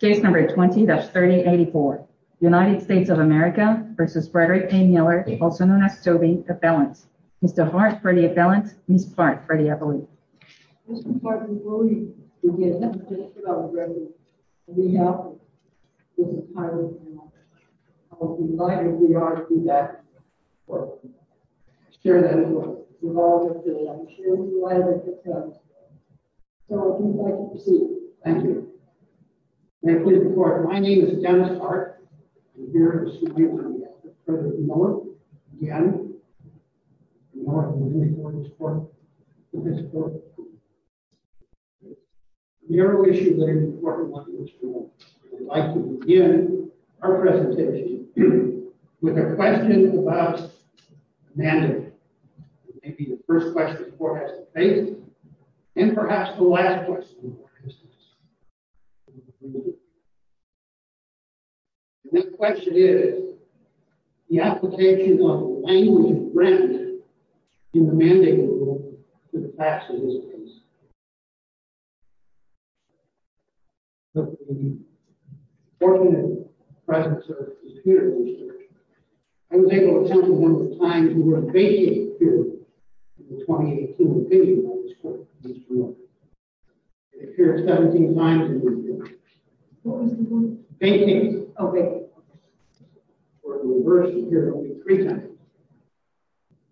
Case number 20-3084, United States of America v. Frederick A. Miller, also known as Toby, appellant. Mr. Hart, pretty appellant. Ms. Part, pretty appellant. Mr. Part, before we begin, just what I was reading, we have Mr. Tyler Miller. I'm delighted we are to be back to share that report with all of you today. I'm sure you'll be delighted to come. Thank you. Thank you. Thank you. Thank you. Thank you. Thank you. Thank you. Thank you. Thank you. My name is Dennis Hart. I'm here to assume the realize that Frederick Miller, again. Is more than willing to report his book to Mr. Horn. Your wish is very important and we would like to begin our presentation with our question about management, which may be the first question the court has to face, and perhaps the last This will be a short presentation and brief statement. The next question is the application of language and grammar in the mandate rule to the facts of this case. The fortunate presence of computer researchers. I was able to attend one of the times we were in a vacated period in the 2018 opinion It appeared 17 times in the opinion. What was the word? Vacated. Okay. Or in reverse, it appeared only three times.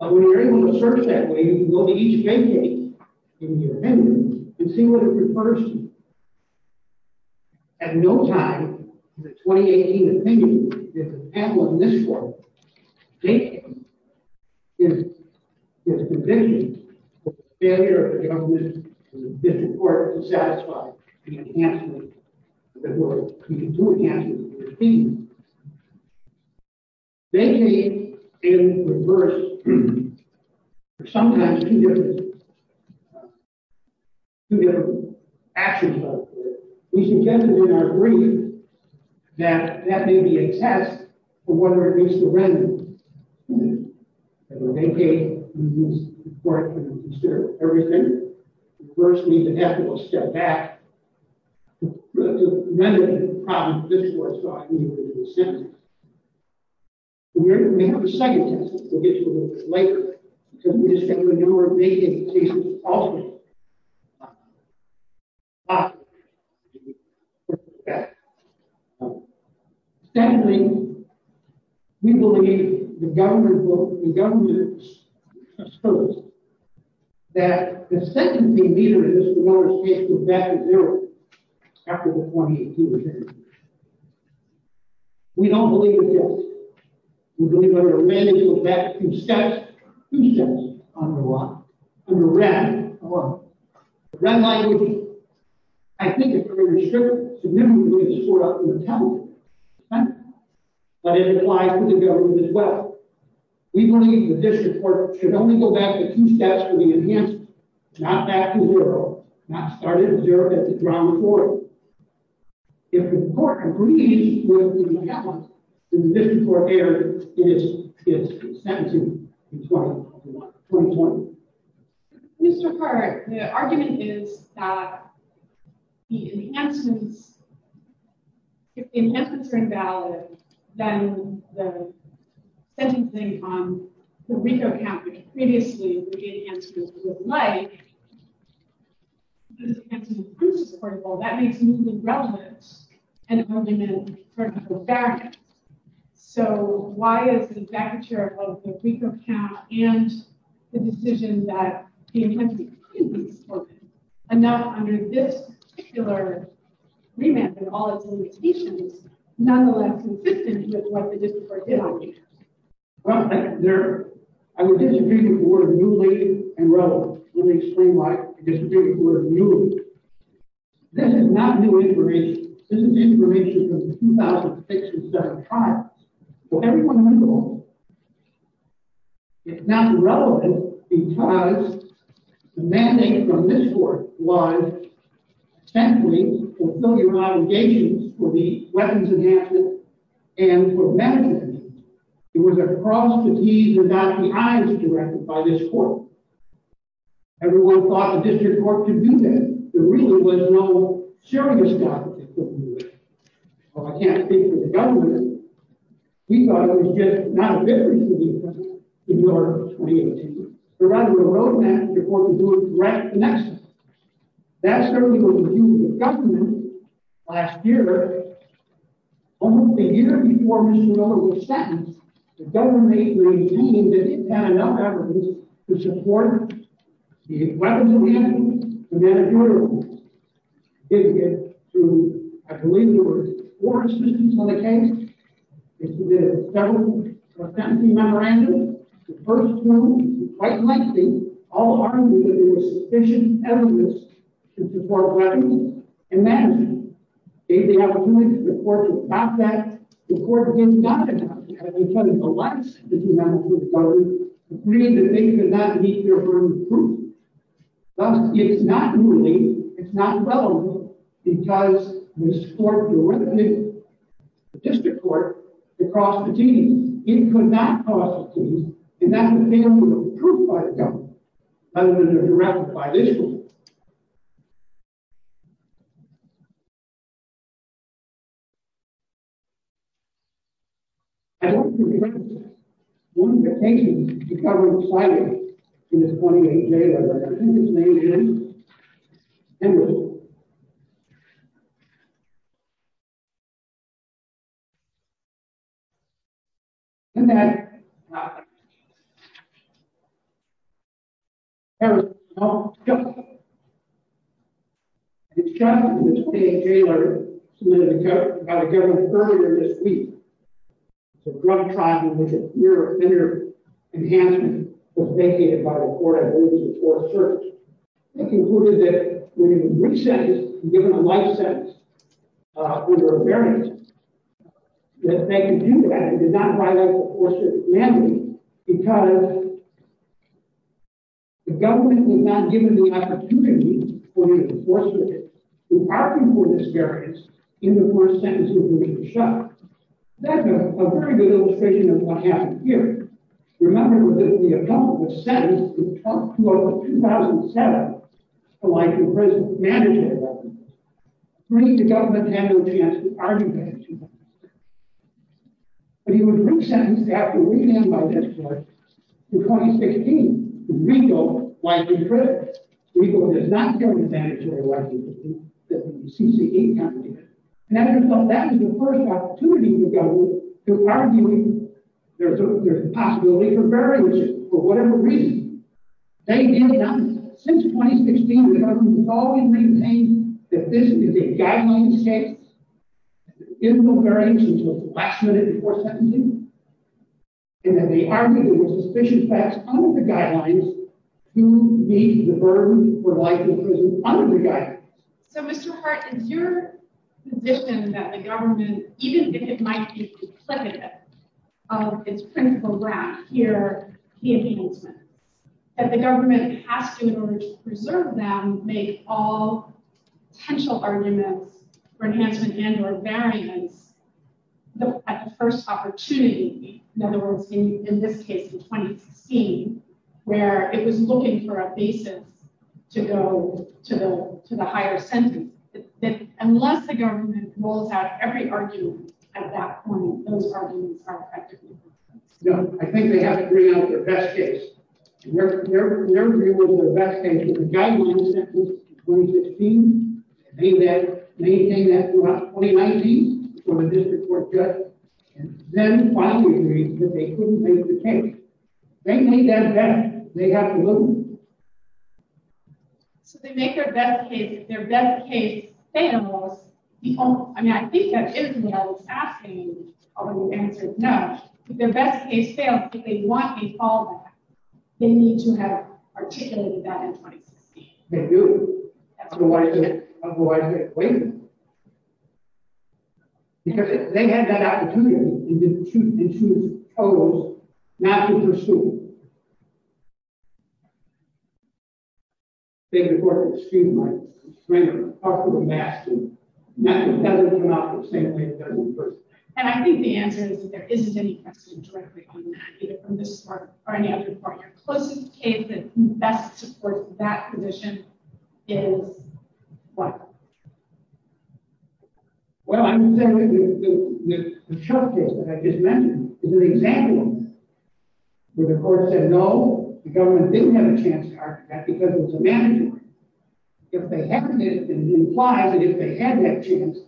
But when you're able to search that way, you can go to each vacate in the opinion and see what it refers to. At no time in the 2018 opinion did the panel in this court vacate its conviction The failure of the government in this court to satisfy the enhancement of the word. We can do enhancements in the opinion. Vacate in reverse are sometimes two different actions. We should generally agree that that may be a test for whether it meets the requirements. When they vacate, the court can consider everything. First, we have to step back. None of the problems this court saw in the sentence. We have a second test that we'll get to later. Because we just have a number of vacancy cases alternate. Secondly, we believe the government asserts that the sentencing meter is in order to get back to zero after the 2018 opinion. We don't believe it yet. We believe it will go back two steps. Two steps on the line. On the red line. I think it's going to be significantly shorter. But it applies to the government as well. We believe the district court should only go back to two steps for the enhancement. Not back to zero. Not start at zero, but to draw forward. If the court agrees with the government, the district court error is sent to 2020. Mr. Hart, the argument is that the enhancements are invalid. Then the sentencing on the RICO count, which previously the enhancements were like, the enhancements are unsupportable. That makes movement relevant. So, why is the vacature of the RICO count and the decision that the enhancements are completely unsupportable? And now under this particular remand and all its limitations, nonetheless consistent with what the district court did. Well, I would disagree with the word newly and relevant. Let me explain why I disagree with the word newly. This is not new information. This is information from the 2006 and 2007 trials. For every one of them. It's not relevant because the mandate from this court was simply to fulfill your obligations for the weapons enhancement and for medicine. It was a cross between the eyes directed by this court. Everyone thought the district court could do that. The reason was no serious doctor could do it. Well, I can't speak for the government. We thought it was just not a good reason to do that in the order of 2018. But rather the road map, the court could do it right the next time. That certainly was the view of the government last year. Almost a year before Mr. Miller was sentenced, the government maintained that it had enough evidence to support the weapons enhancement and then a jury report. I believe there were four decisions on the case. There were several sentencing memorandums. The first two were quite lengthy. All argued that there was sufficient evidence to support weapons enhancement. They gave the opportunity for the court to stop that. The court did not deny that. They tried to coalesce the two matters with each other. They agreed that they could not meet their own group. Thus, it's not newly, it's not relevant because this court knew where the people were. The district court could cross the T's. It could not cross the T's. And that would be a move approved by the government rather than a draft by this court. I'd like to present one of the patients the government cited in this 28-day letter. His name is Henry. And that Henry. The judge in this 28-day letter submitted to the government earlier this week a drug trial in which a fear of thinner enhancement was vacated by the court. I believe it was a court of search. They concluded that when he was re-sentenced and given a life sentence, under a variance, that they could do that. It did not violate the force of the commandment because the government had not given the opportunity for the enforcer to argue for this variance in the first sentence of the written shot. That's a very good illustration of what happened here. Remember that the appellant was sentenced in 2007 to life in prison. The government had no chance to argue that. But he was re-sentenced after reading by this court in 2016 to rego life in prison. Rego does not count as mandatory life in prison. CCA counted it. And as a result, that was the first opportunity for the government to argue there's a possibility for variance for whatever reason. Since 2016, the government has always maintained that this is a guidelines case, that there is no variance until the last minute before sentencing, and that they argue that there are suspicious facts under the guidelines to meet the burden for life in prison under the guidelines. So Mr. Hart, is your position that the government, even if it might be competitive, it's critical ground here, the enhancement, that the government has to, in order to preserve them, make all potential arguments for enhancement and or variance at the first opportunity? In other words, in this case, in 2016, where it was looking for a basis to go to the higher sentence, that unless the government rolls out every argument at that point, those arguments aren't practical. No, I think they have to bring out their best case. Their theory was their best case. The guidelines sentence in 2016, they maintained that throughout 2019, when the district court judged, and then finally agreed that they couldn't make the case. They made that bet. They have to move. So they make their best case, their best case, I mean, I think that is what I was asking, but the answer is no. If their best case fails, if they want a fallback, they need to have articulated that in 2016. They do. Otherwise, they wait. Because if they had that opportunity, they'd choose to close, not to pursue. And I think the answer is that there isn't any question directly on that, either from this court or any other court. Your closest case that best supports that position is? What? Well, I'm saying the short case that I just mentioned We're going to call it a short case. The court said no. The government didn't have a chance to argue that because it was a mandatory. If they hadn't, it implies that if they had that chance,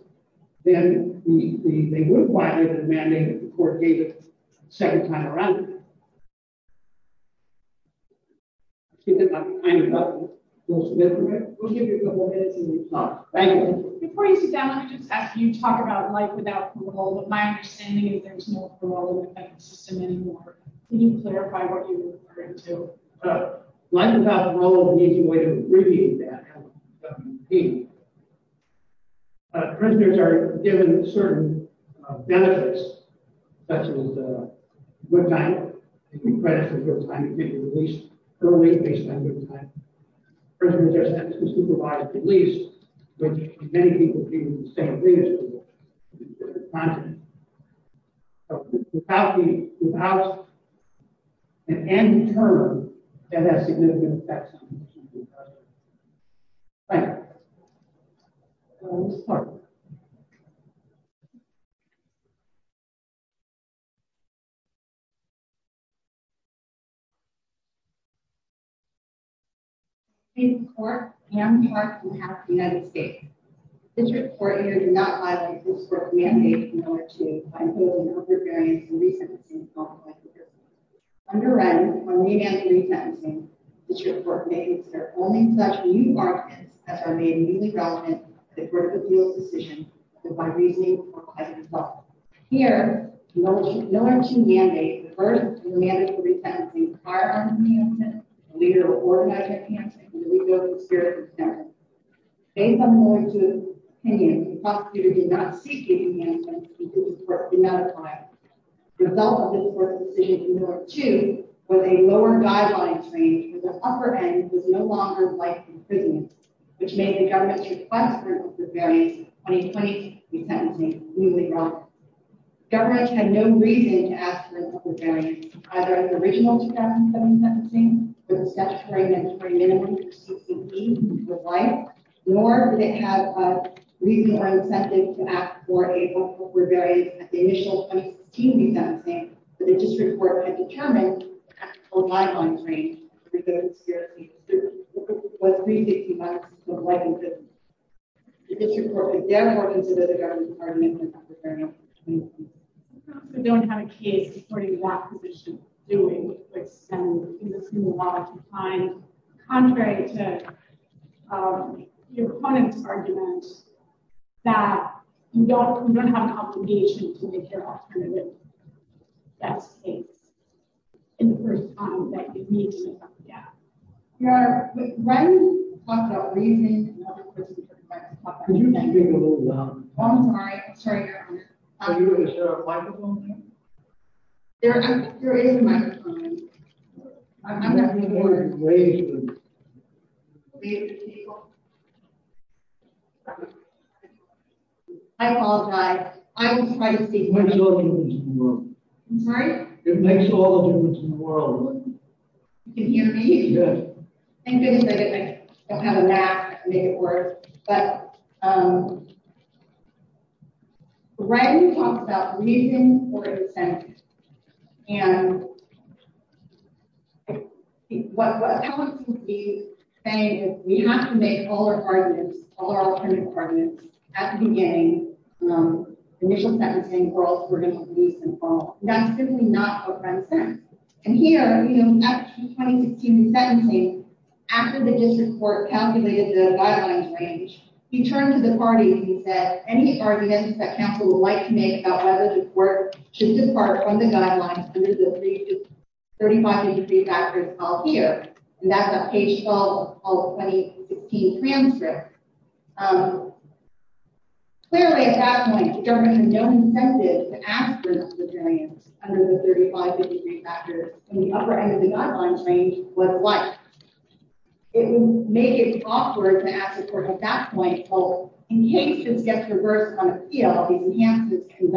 then they would apply it as a mandate if the court gave it a second time around. Before you sit down, let me just ask you, you talk about life without parole, but my understanding is there's no parole system anymore. Can you clarify what you're referring to? And in turn, that has significant effects on the future of the country. Thank you. Let's go to this court. Under Wren, on remand and re-sentencing, this court may consider only such new arguments as are made immediately relevant to the court's appeal decision, with my reasoning as a result. Here, Miller should mandate the first remand and re-sentencing prior on remand and re-sentencing, the leader of organized re-sentencing, and the leader of the spirit of consent. Based on Miller's opinion, the prosecutor did not seek remand and re-sentencing because the court did not apply it. The result of this court's decision to Miller, too, was a lower guidelines range because the upper end was no longer life imprisonment, which made the government's request for a remand and re-sentencing completely wrong. The government had no reason to ask for a remand and re-sentencing, either in the original 2007 sentencing, for the statutory mandatory minimum of 16 weeks of life, nor did it have a reason or incentive to ask for a vote for rebellion at the initial 2016 re-sentencing that the district court had determined was an actual guidelines range for the spirit of consent. It was rethinking that system of life imprisonment. The district court, again, worked into the government's argument that that was a very important decision. We don't have a case supporting that position, doing what's been assumed a lot of the time, contrary to your opponent's argument that you don't have an obligation to make your alternative. That's the case. And the first time that you need to, yeah. We're ready to talk about reasoning and other questions. Could you speak a little louder? I'm sorry. Is there a microphone here? There is a microphone. I apologize. I will try to speak. It makes all the difference in the world. I'm sorry? It makes all the difference in the world. You can hear me? Good. Thank goodness I don't have a map to make it work. But, um, Bren talks about reason for consent. And what I want to be saying is we have to make all our arguments, all our alternative arguments, at the beginning, um, initial sentencing, or else we're going to lose them all. That's simply not what Bren said. And here, you know, after the 2016 sentencing, after the district court calculated the guidelines range, he turned to the party and he said, any arguments that council would like to make about whether the court should depart from the guidelines under the 35-degree factor is called here. And that's a page 12 of the 2016 transcript. Um, clearly at that point, the government had no incentive to ask for this deterrent under the 35-degree factor. And the upper end of the guideline range was white. It made it awkward to ask the court at that point, well, in case this gets reversed on appeal, these enhancements can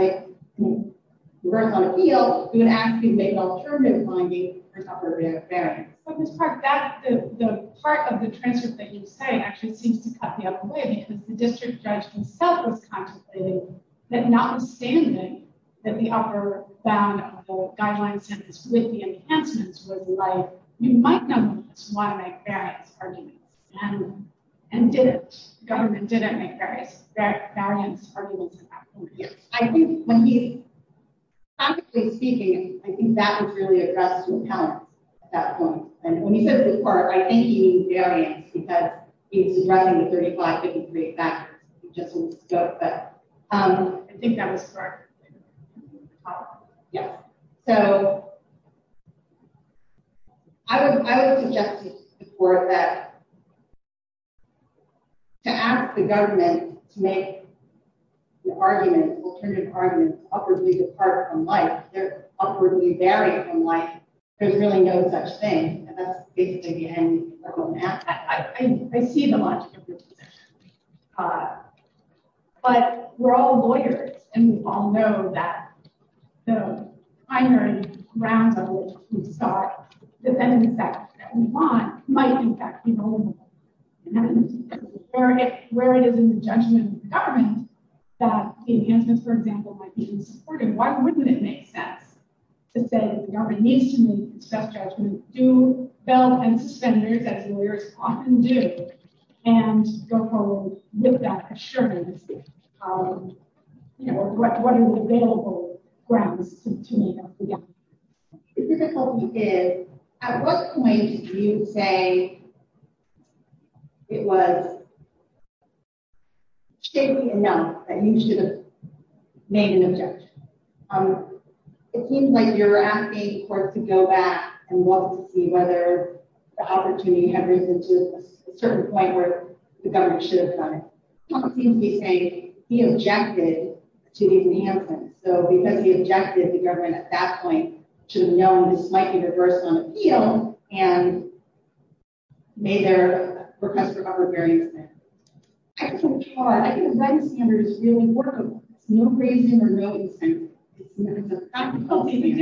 reverse on appeal, we would ask you to make alternative findings for the upper barrier. But Ms. Park, that, the part of the transcript that you say actually seems to cut the other way because the district judge himself was contemplating that notwithstanding that the upper bound of the guideline sentence with the enhancements was like, you might not want to make variance arguments. And did it, the government didn't make variance arguments at that point. I think when he, practically speaking, I think that was really addressed to the council at that point. And when he said the court, I think he means variance because he was addressing the 35-degree factor. But I think that was correct. Yeah. So I would suggest to the court that to ask the government to make the argument, alternative argument, awkwardly depart from life, awkwardly vary from life, there's really no such thing. And that's basically the end of the problem. I see the logic of your position. But we're all lawyers, and we all know that the primary grounds of which we start, the defendants that we want might in fact be vulnerable. And where it is in the judgment of the government that the enhancements, for example, might be unsupported, why wouldn't it make sense to say that the government needs to make its best judgment, and do bail and suspenders, as lawyers often do, and go forward with that assurance, or what are the available grounds to make that judgment? The difficulty is, at what point do you say it was shakily enough that you should have made an objection? It seems like you're asking the court to go back and look to see whether the opportunity had risen to a certain point where the government should have done it. It seems to be saying, he objected to the enhancements. So because he objected, the government at that point should have known this might be reversed on appeal, and made their request for cover very instant. I think the right standard is really workable. There's no reason or no incentive. The difficulty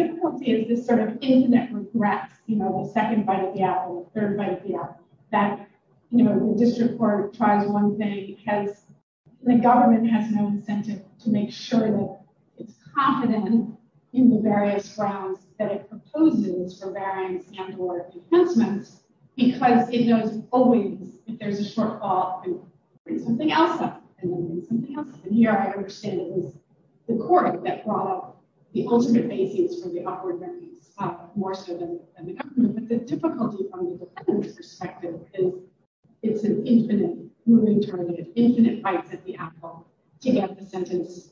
is this internet regret, the second bite of the apple, the third bite of the apple. The district court tries one thing, and the government has no incentive to make sure that it's confident in the various grounds that it proposes for varying standard of enhancements, because it knows always if there's a shortfall, it brings something else up. And here I understand it was the court that brought up the ultimate basis for the awkward remedies, more so than the government. But the difficulty from the defendant's perspective is it's an infinite moving target, infinite bites at the apple to get the sentence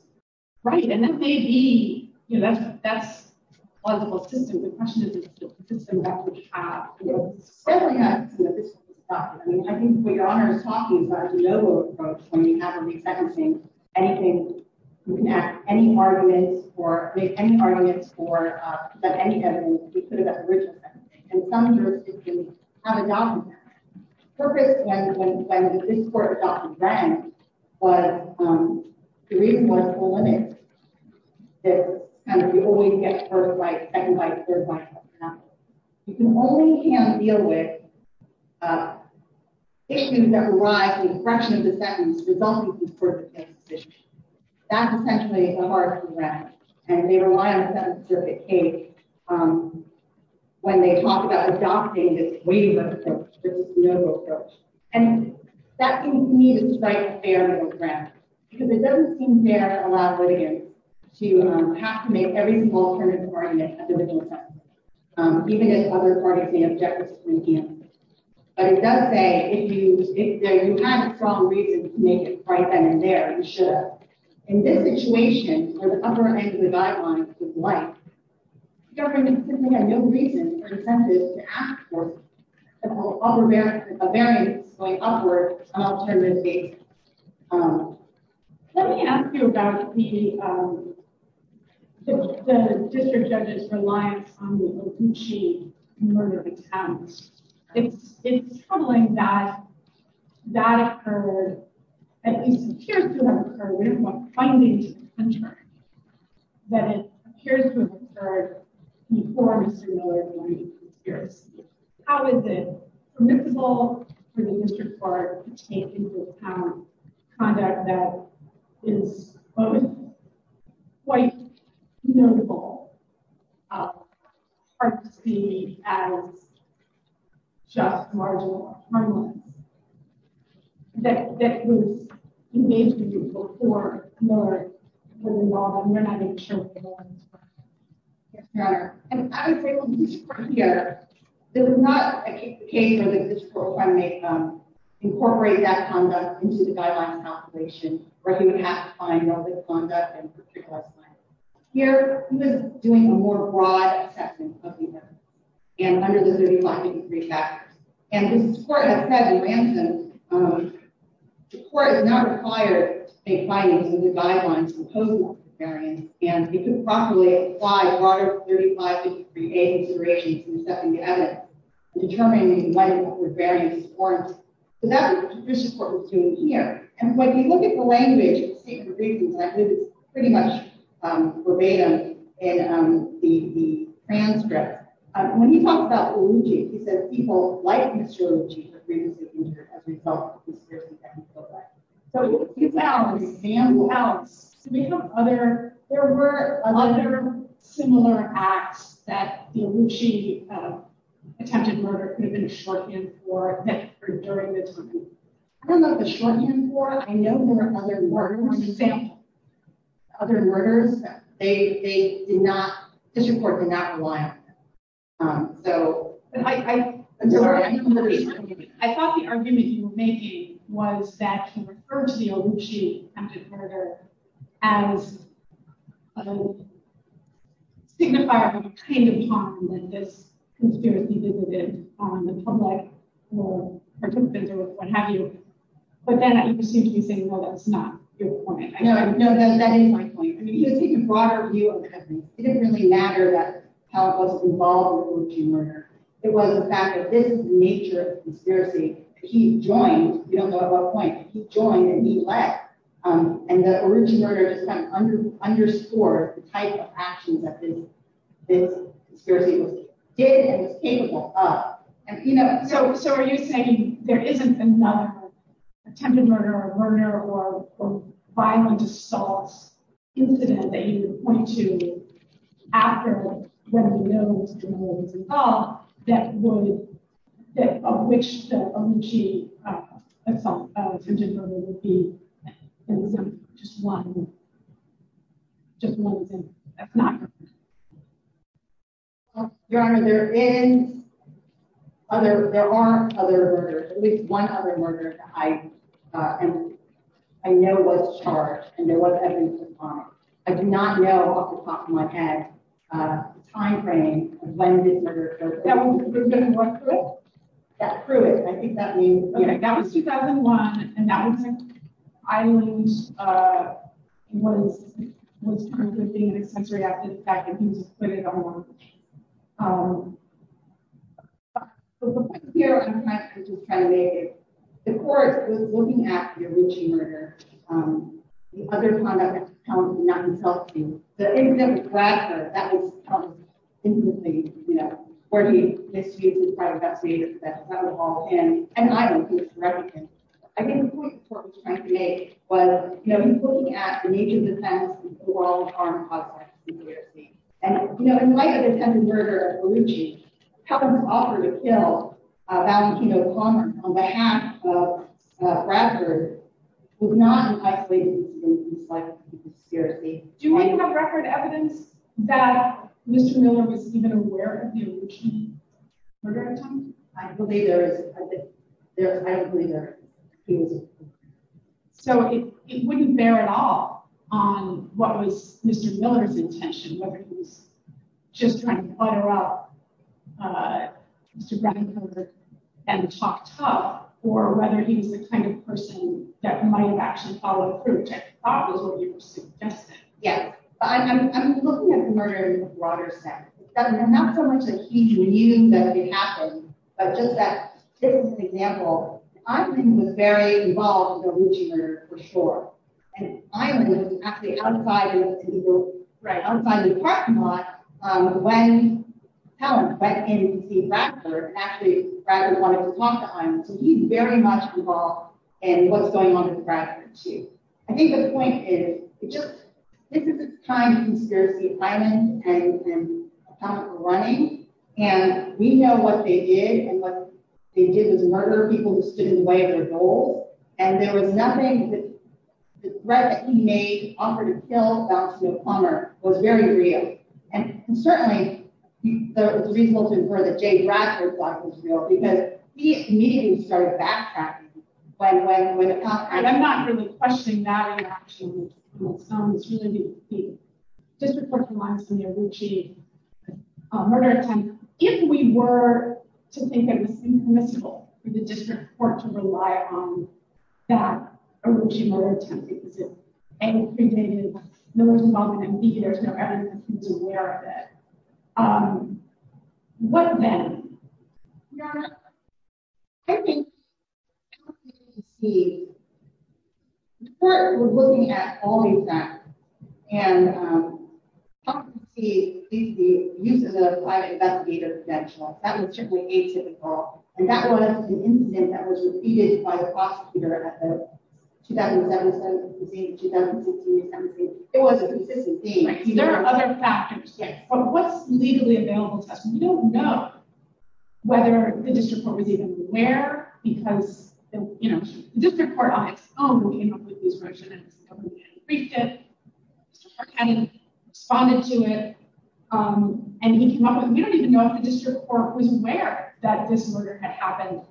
right. And that may be, that's a plausible system. The question is, is it a system that would have, certainly have some of this stuff. I mean, I think what your honor is talking about when you have a re-sentencing, anything you can add, any arguments, or make any arguments for any evidence you could have at the original sentencing. And some jurisdictions have a document. The purpose when the district court documents was, the reason was the limit. That you always get first bite, second bite, third bite. You only can deal with issues that arise in the fraction of the sentence resulting from court decision. That's essentially a hard to grasp. And they rely on the sentence circuit case when they talk about adopting this wave of approach, this no-go approach. And that seems to me to strike a fair middle ground. Because it doesn't seem fair to allow litigants to have to make every small turn of the argument at the original sentencing. Even if other parties may object to it. But it does say, if you had a strong reason to make it right then and there, you should have. In this situation, where the upper end of the guidelines was light, the government simply had no reason or incentive to ask for a variance going upward on alternative basis. Let me ask you about the district judge's reliance on the Oguchi murder attempt. It's troubling that that occurred, at least it appears to have occurred, we don't want findings to be unturned. That it appears to have occurred before Mr. Miller during the conspiracy. How is it permissible for the district court to take into account conduct that is both quite notable, hard to see as just marginal or harmless, that was engaged with you before Miller was involved and you're not even sure what the law is for? Yes, Your Honor. And I would say from the district court's view, there is not a case where the district court may incorporate that conduct into the guidelines calculation, where he would have to find Here, he was doing a more broad assessment of the murder and under the 35-degree factors. And this court has said, the court does not require state findings in the guidelines to impose a variance. And it could properly apply broader 35-degree A considerations in the second to edit, determining whether or not the variance is important. So that's what the district court was doing here. And when you look at the language, and I believe it's pretty much verbatim in the transcript, when he talks about Uluji, he says, people like Mr. Uluji for grievances incurred as a result of the conspiracy against his brother. So you found an example of how there were other similar acts that the Uluji attempted murder could have been a shorthand for during the time. I don't know if it's a shorthand for it. I know there were other murders. Other murders, they did not, district court did not rely on them. So I'm sorry. I thought the argument you were making was that you referred to the Uluji attempted murder as a signifier of the kind of time that this conspiracy existed on the public or participants or what have you. But then I assume you're saying, well, that's not your point. No, that is my point. I mean, if you take a broader view of it, it didn't really matter how it was involved in the Uluji murder. It was the fact that this nature of conspiracy, he joined, we don't know at what point, he joined and he left. And the Uluji murder just kind of underscored the type of actions that this conspiracy was capable of. So are you saying there isn't another attempted murder or murder or violent assault incident that you would point to after what we know is involved that would, of which the Uluji attempted murder would be just one thing? That's not your point. Your Honor, there are other murders, at least one other murder that I know was charged and there was evidence of crime. I do not know off the top of my head the time frame of when this murder took place. That was 2001 Pruitt? Yeah, Pruitt. I think that means, yeah. That was 2001 and that was in Ireland when he was being an accessory after the fact and he was put in a home. But the point here is that the court was looking at the Uluji murder, the other conduct that was found to be non-assaulting. The incident with Gladstone, that was found intimately, you know, where he investigated part of that state of the federal law and I don't think it's relevant. I think the point the court was trying to make was, you know, he's looking at the nature of the offense and the overall harm caused by the conspiracy. And, you know, in light of the attempted murder of Uluji, how it was offered to kill Valentino Palmer on behalf of Bradford was not an isolated case in the psychological conspiracy. Do you have record evidence that Mr. Miller was even aware of the Uluji murder attempt? I believe there is. I don't believe there is. So it wouldn't bear at all on what was Mr. Miller's intention, whether he was just trying to butter up Mr. Bradford and talk tough or whether he was the kind of person that might have actually followed through, which I thought was what you were suggesting. Yeah. I'm looking at the murder in a broader sense. Not so much that he knew that it happened, but just that this is an example. I think he was very involved in the Uluji murder for sure. And Island was actually outside of the parking lot when Palmer went in to see Bradford. Actually, Bradford wanted to talk to Island. So he's very much involved in what's going on with Bradford too. I think the point is, this is a time of conspiracy. Island and Palmer were running. And we know what they did. And what they did was murder people who stood in the way of their goals. And there was nothing that the threat that he made offered to kill Dr. Palmer was very real. And certainly, it was reasonable to infer that Jay Bradford's thought was real because he immediately started backtracking. And I'm not really questioning that in action. It's really difficult to rely on some Uluji murder attempt if we were to think that it was permissible for the district court to rely on that Uluji murder attempt because it, A, created no one's involvement, and B, there's no evidence that he's aware of it. What then? Yeah. I think the court was looking at all these facts. And the use of the private investigator credential, that was certainly atypical. And that was an incident that was repeated by the prosecutor at the 2007 assessment. It was a consistent theme. There are other factors. Yes. But what's legally available to us? We don't know whether the district court was even aware because the district court, on its own, came up with these versions. We briefed it. The district court responded to it. And we don't even know if the district court was aware that this murder had happened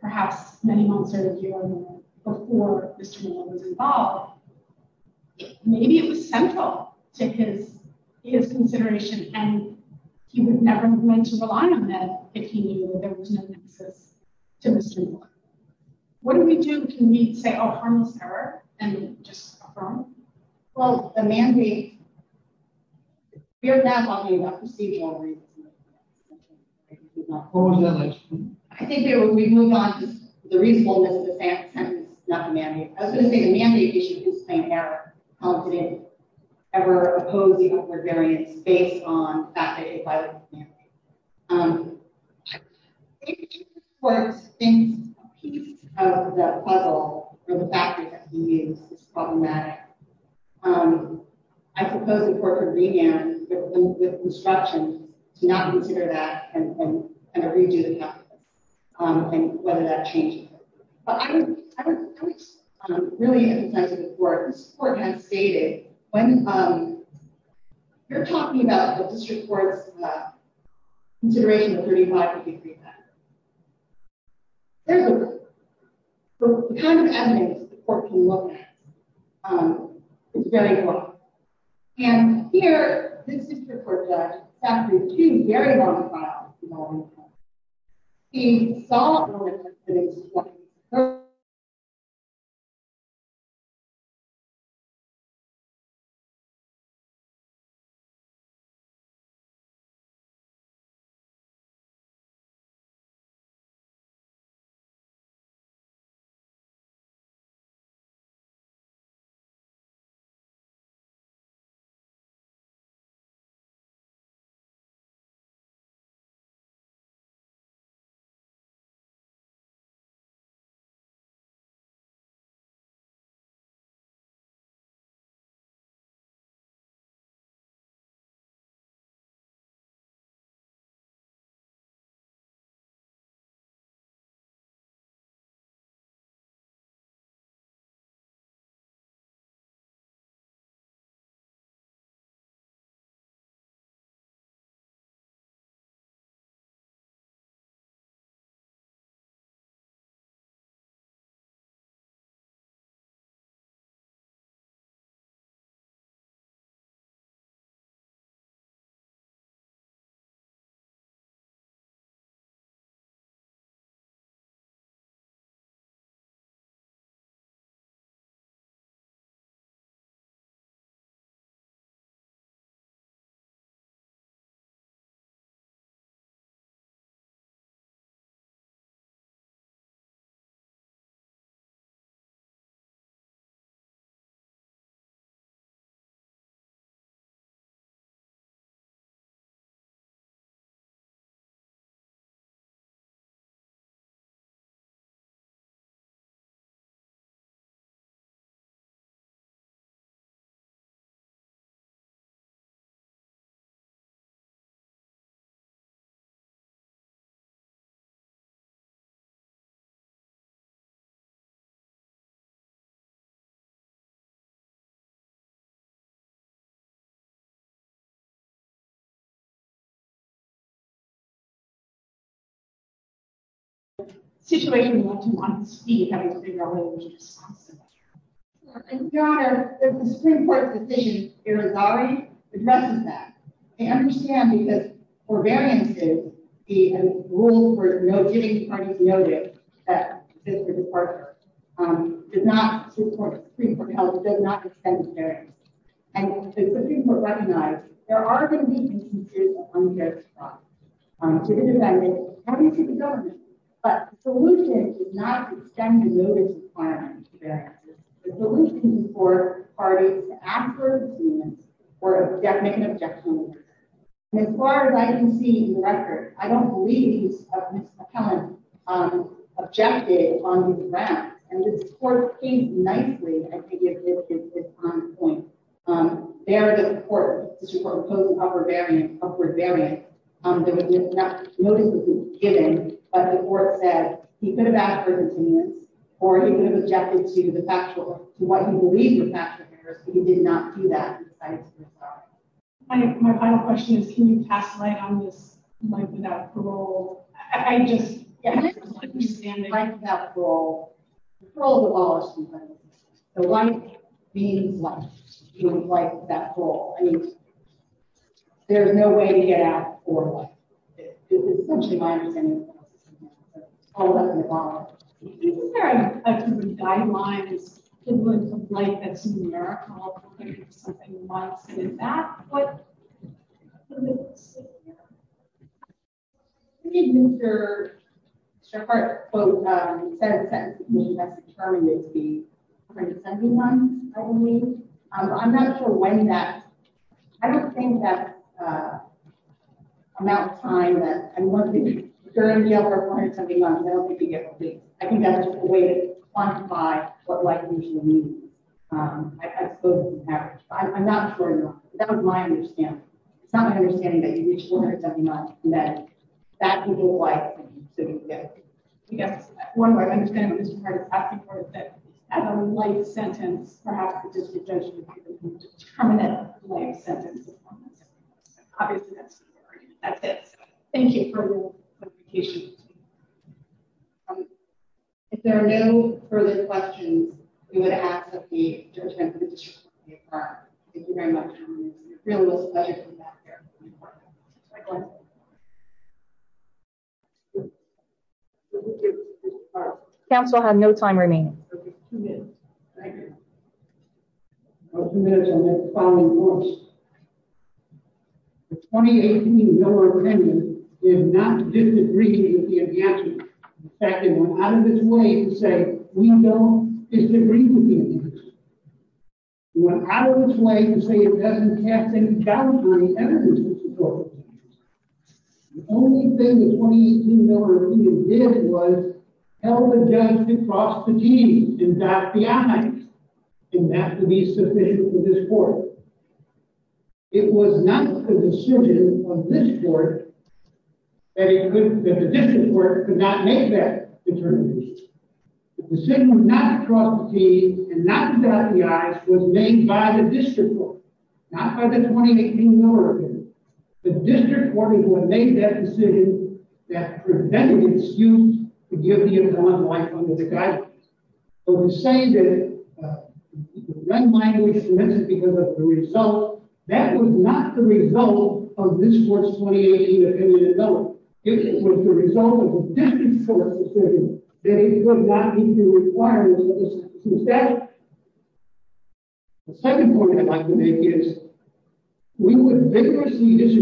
perhaps many months or a year or more before Mr. Palmer was involved. Maybe it was central to his consideration. And he would never have meant to rely on that if he knew there was no access to Mr. Palmer. What do we do to meet, say, a harmless error and just affirm? Well, the mandate. We are not talking about procedural reasons. I think we've moved on to the reasonableness of the sentence, not the mandate. I was going to say the mandate issue is plain error. We're opposing other variants based on that mandate by the mandate. If the court thinks a piece of the puzzle or the fact that the mandate is problematic, I suppose the court could begin with instructions to not consider that and kind of redo the document and whether that changes. But I don't really have a sense of the court. This court has stated when you're talking about the district court's consideration of 35-degree sentence, the kind of evidence the court can look at is very important. And here, this district court judge, after two very long trials involving the court, he saw and recognized that it was plain error. Thank you. Thank you. Thank you. Thank you. Thank you. Thank you. Thank you. Thank you. Thank you. Council have no time remaining. Thank you. A member of their family members. And if not, we say where I was say hand hands on hands hands up it is Mirka every violent act that's auden or generalization uh and the question was that we see the question was the district court had seen the evidence and it knew best what to do when you say there was he's been in every violent act what are you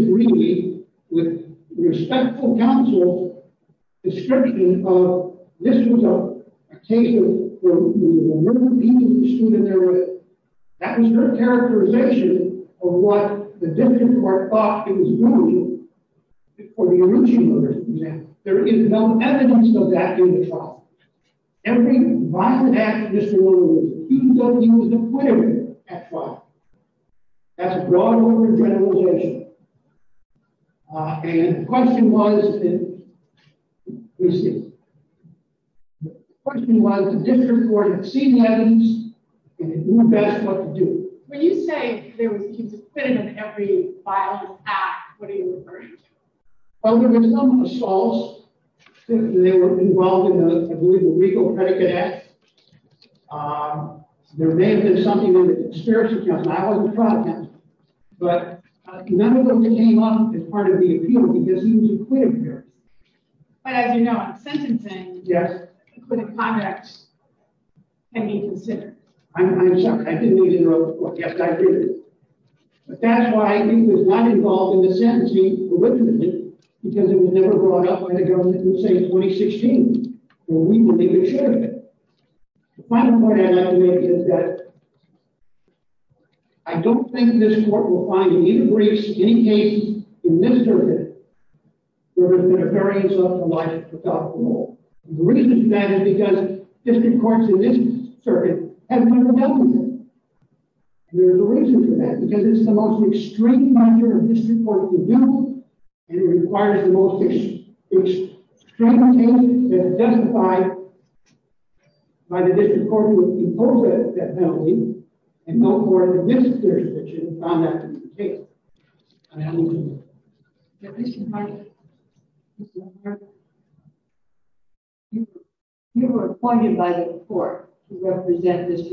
referring to oh there was some assaults they were involved in a i believe a legal predicate act um there may have been something with the spirits of justice i wasn't proud of him but none of them came up as part of the appeal because he was a clear but as you know i'm sentencing yes including conducts can be considered i'm sorry i didn't need to know yes i did but that's why he was not involved in the sentencing originally because it was never brought up by the government in say 2016 when we believe it should the final is that i don't think this court will find an increase any case in this circuit there has been a variance of the life without the law the reason for that is because district courts in this circuit have never dealt with it there's a reason for that because it's the most extreme measure of district court to do and it requires the most extreme things that are that penalty and no more than this you were appointed by the court to represent this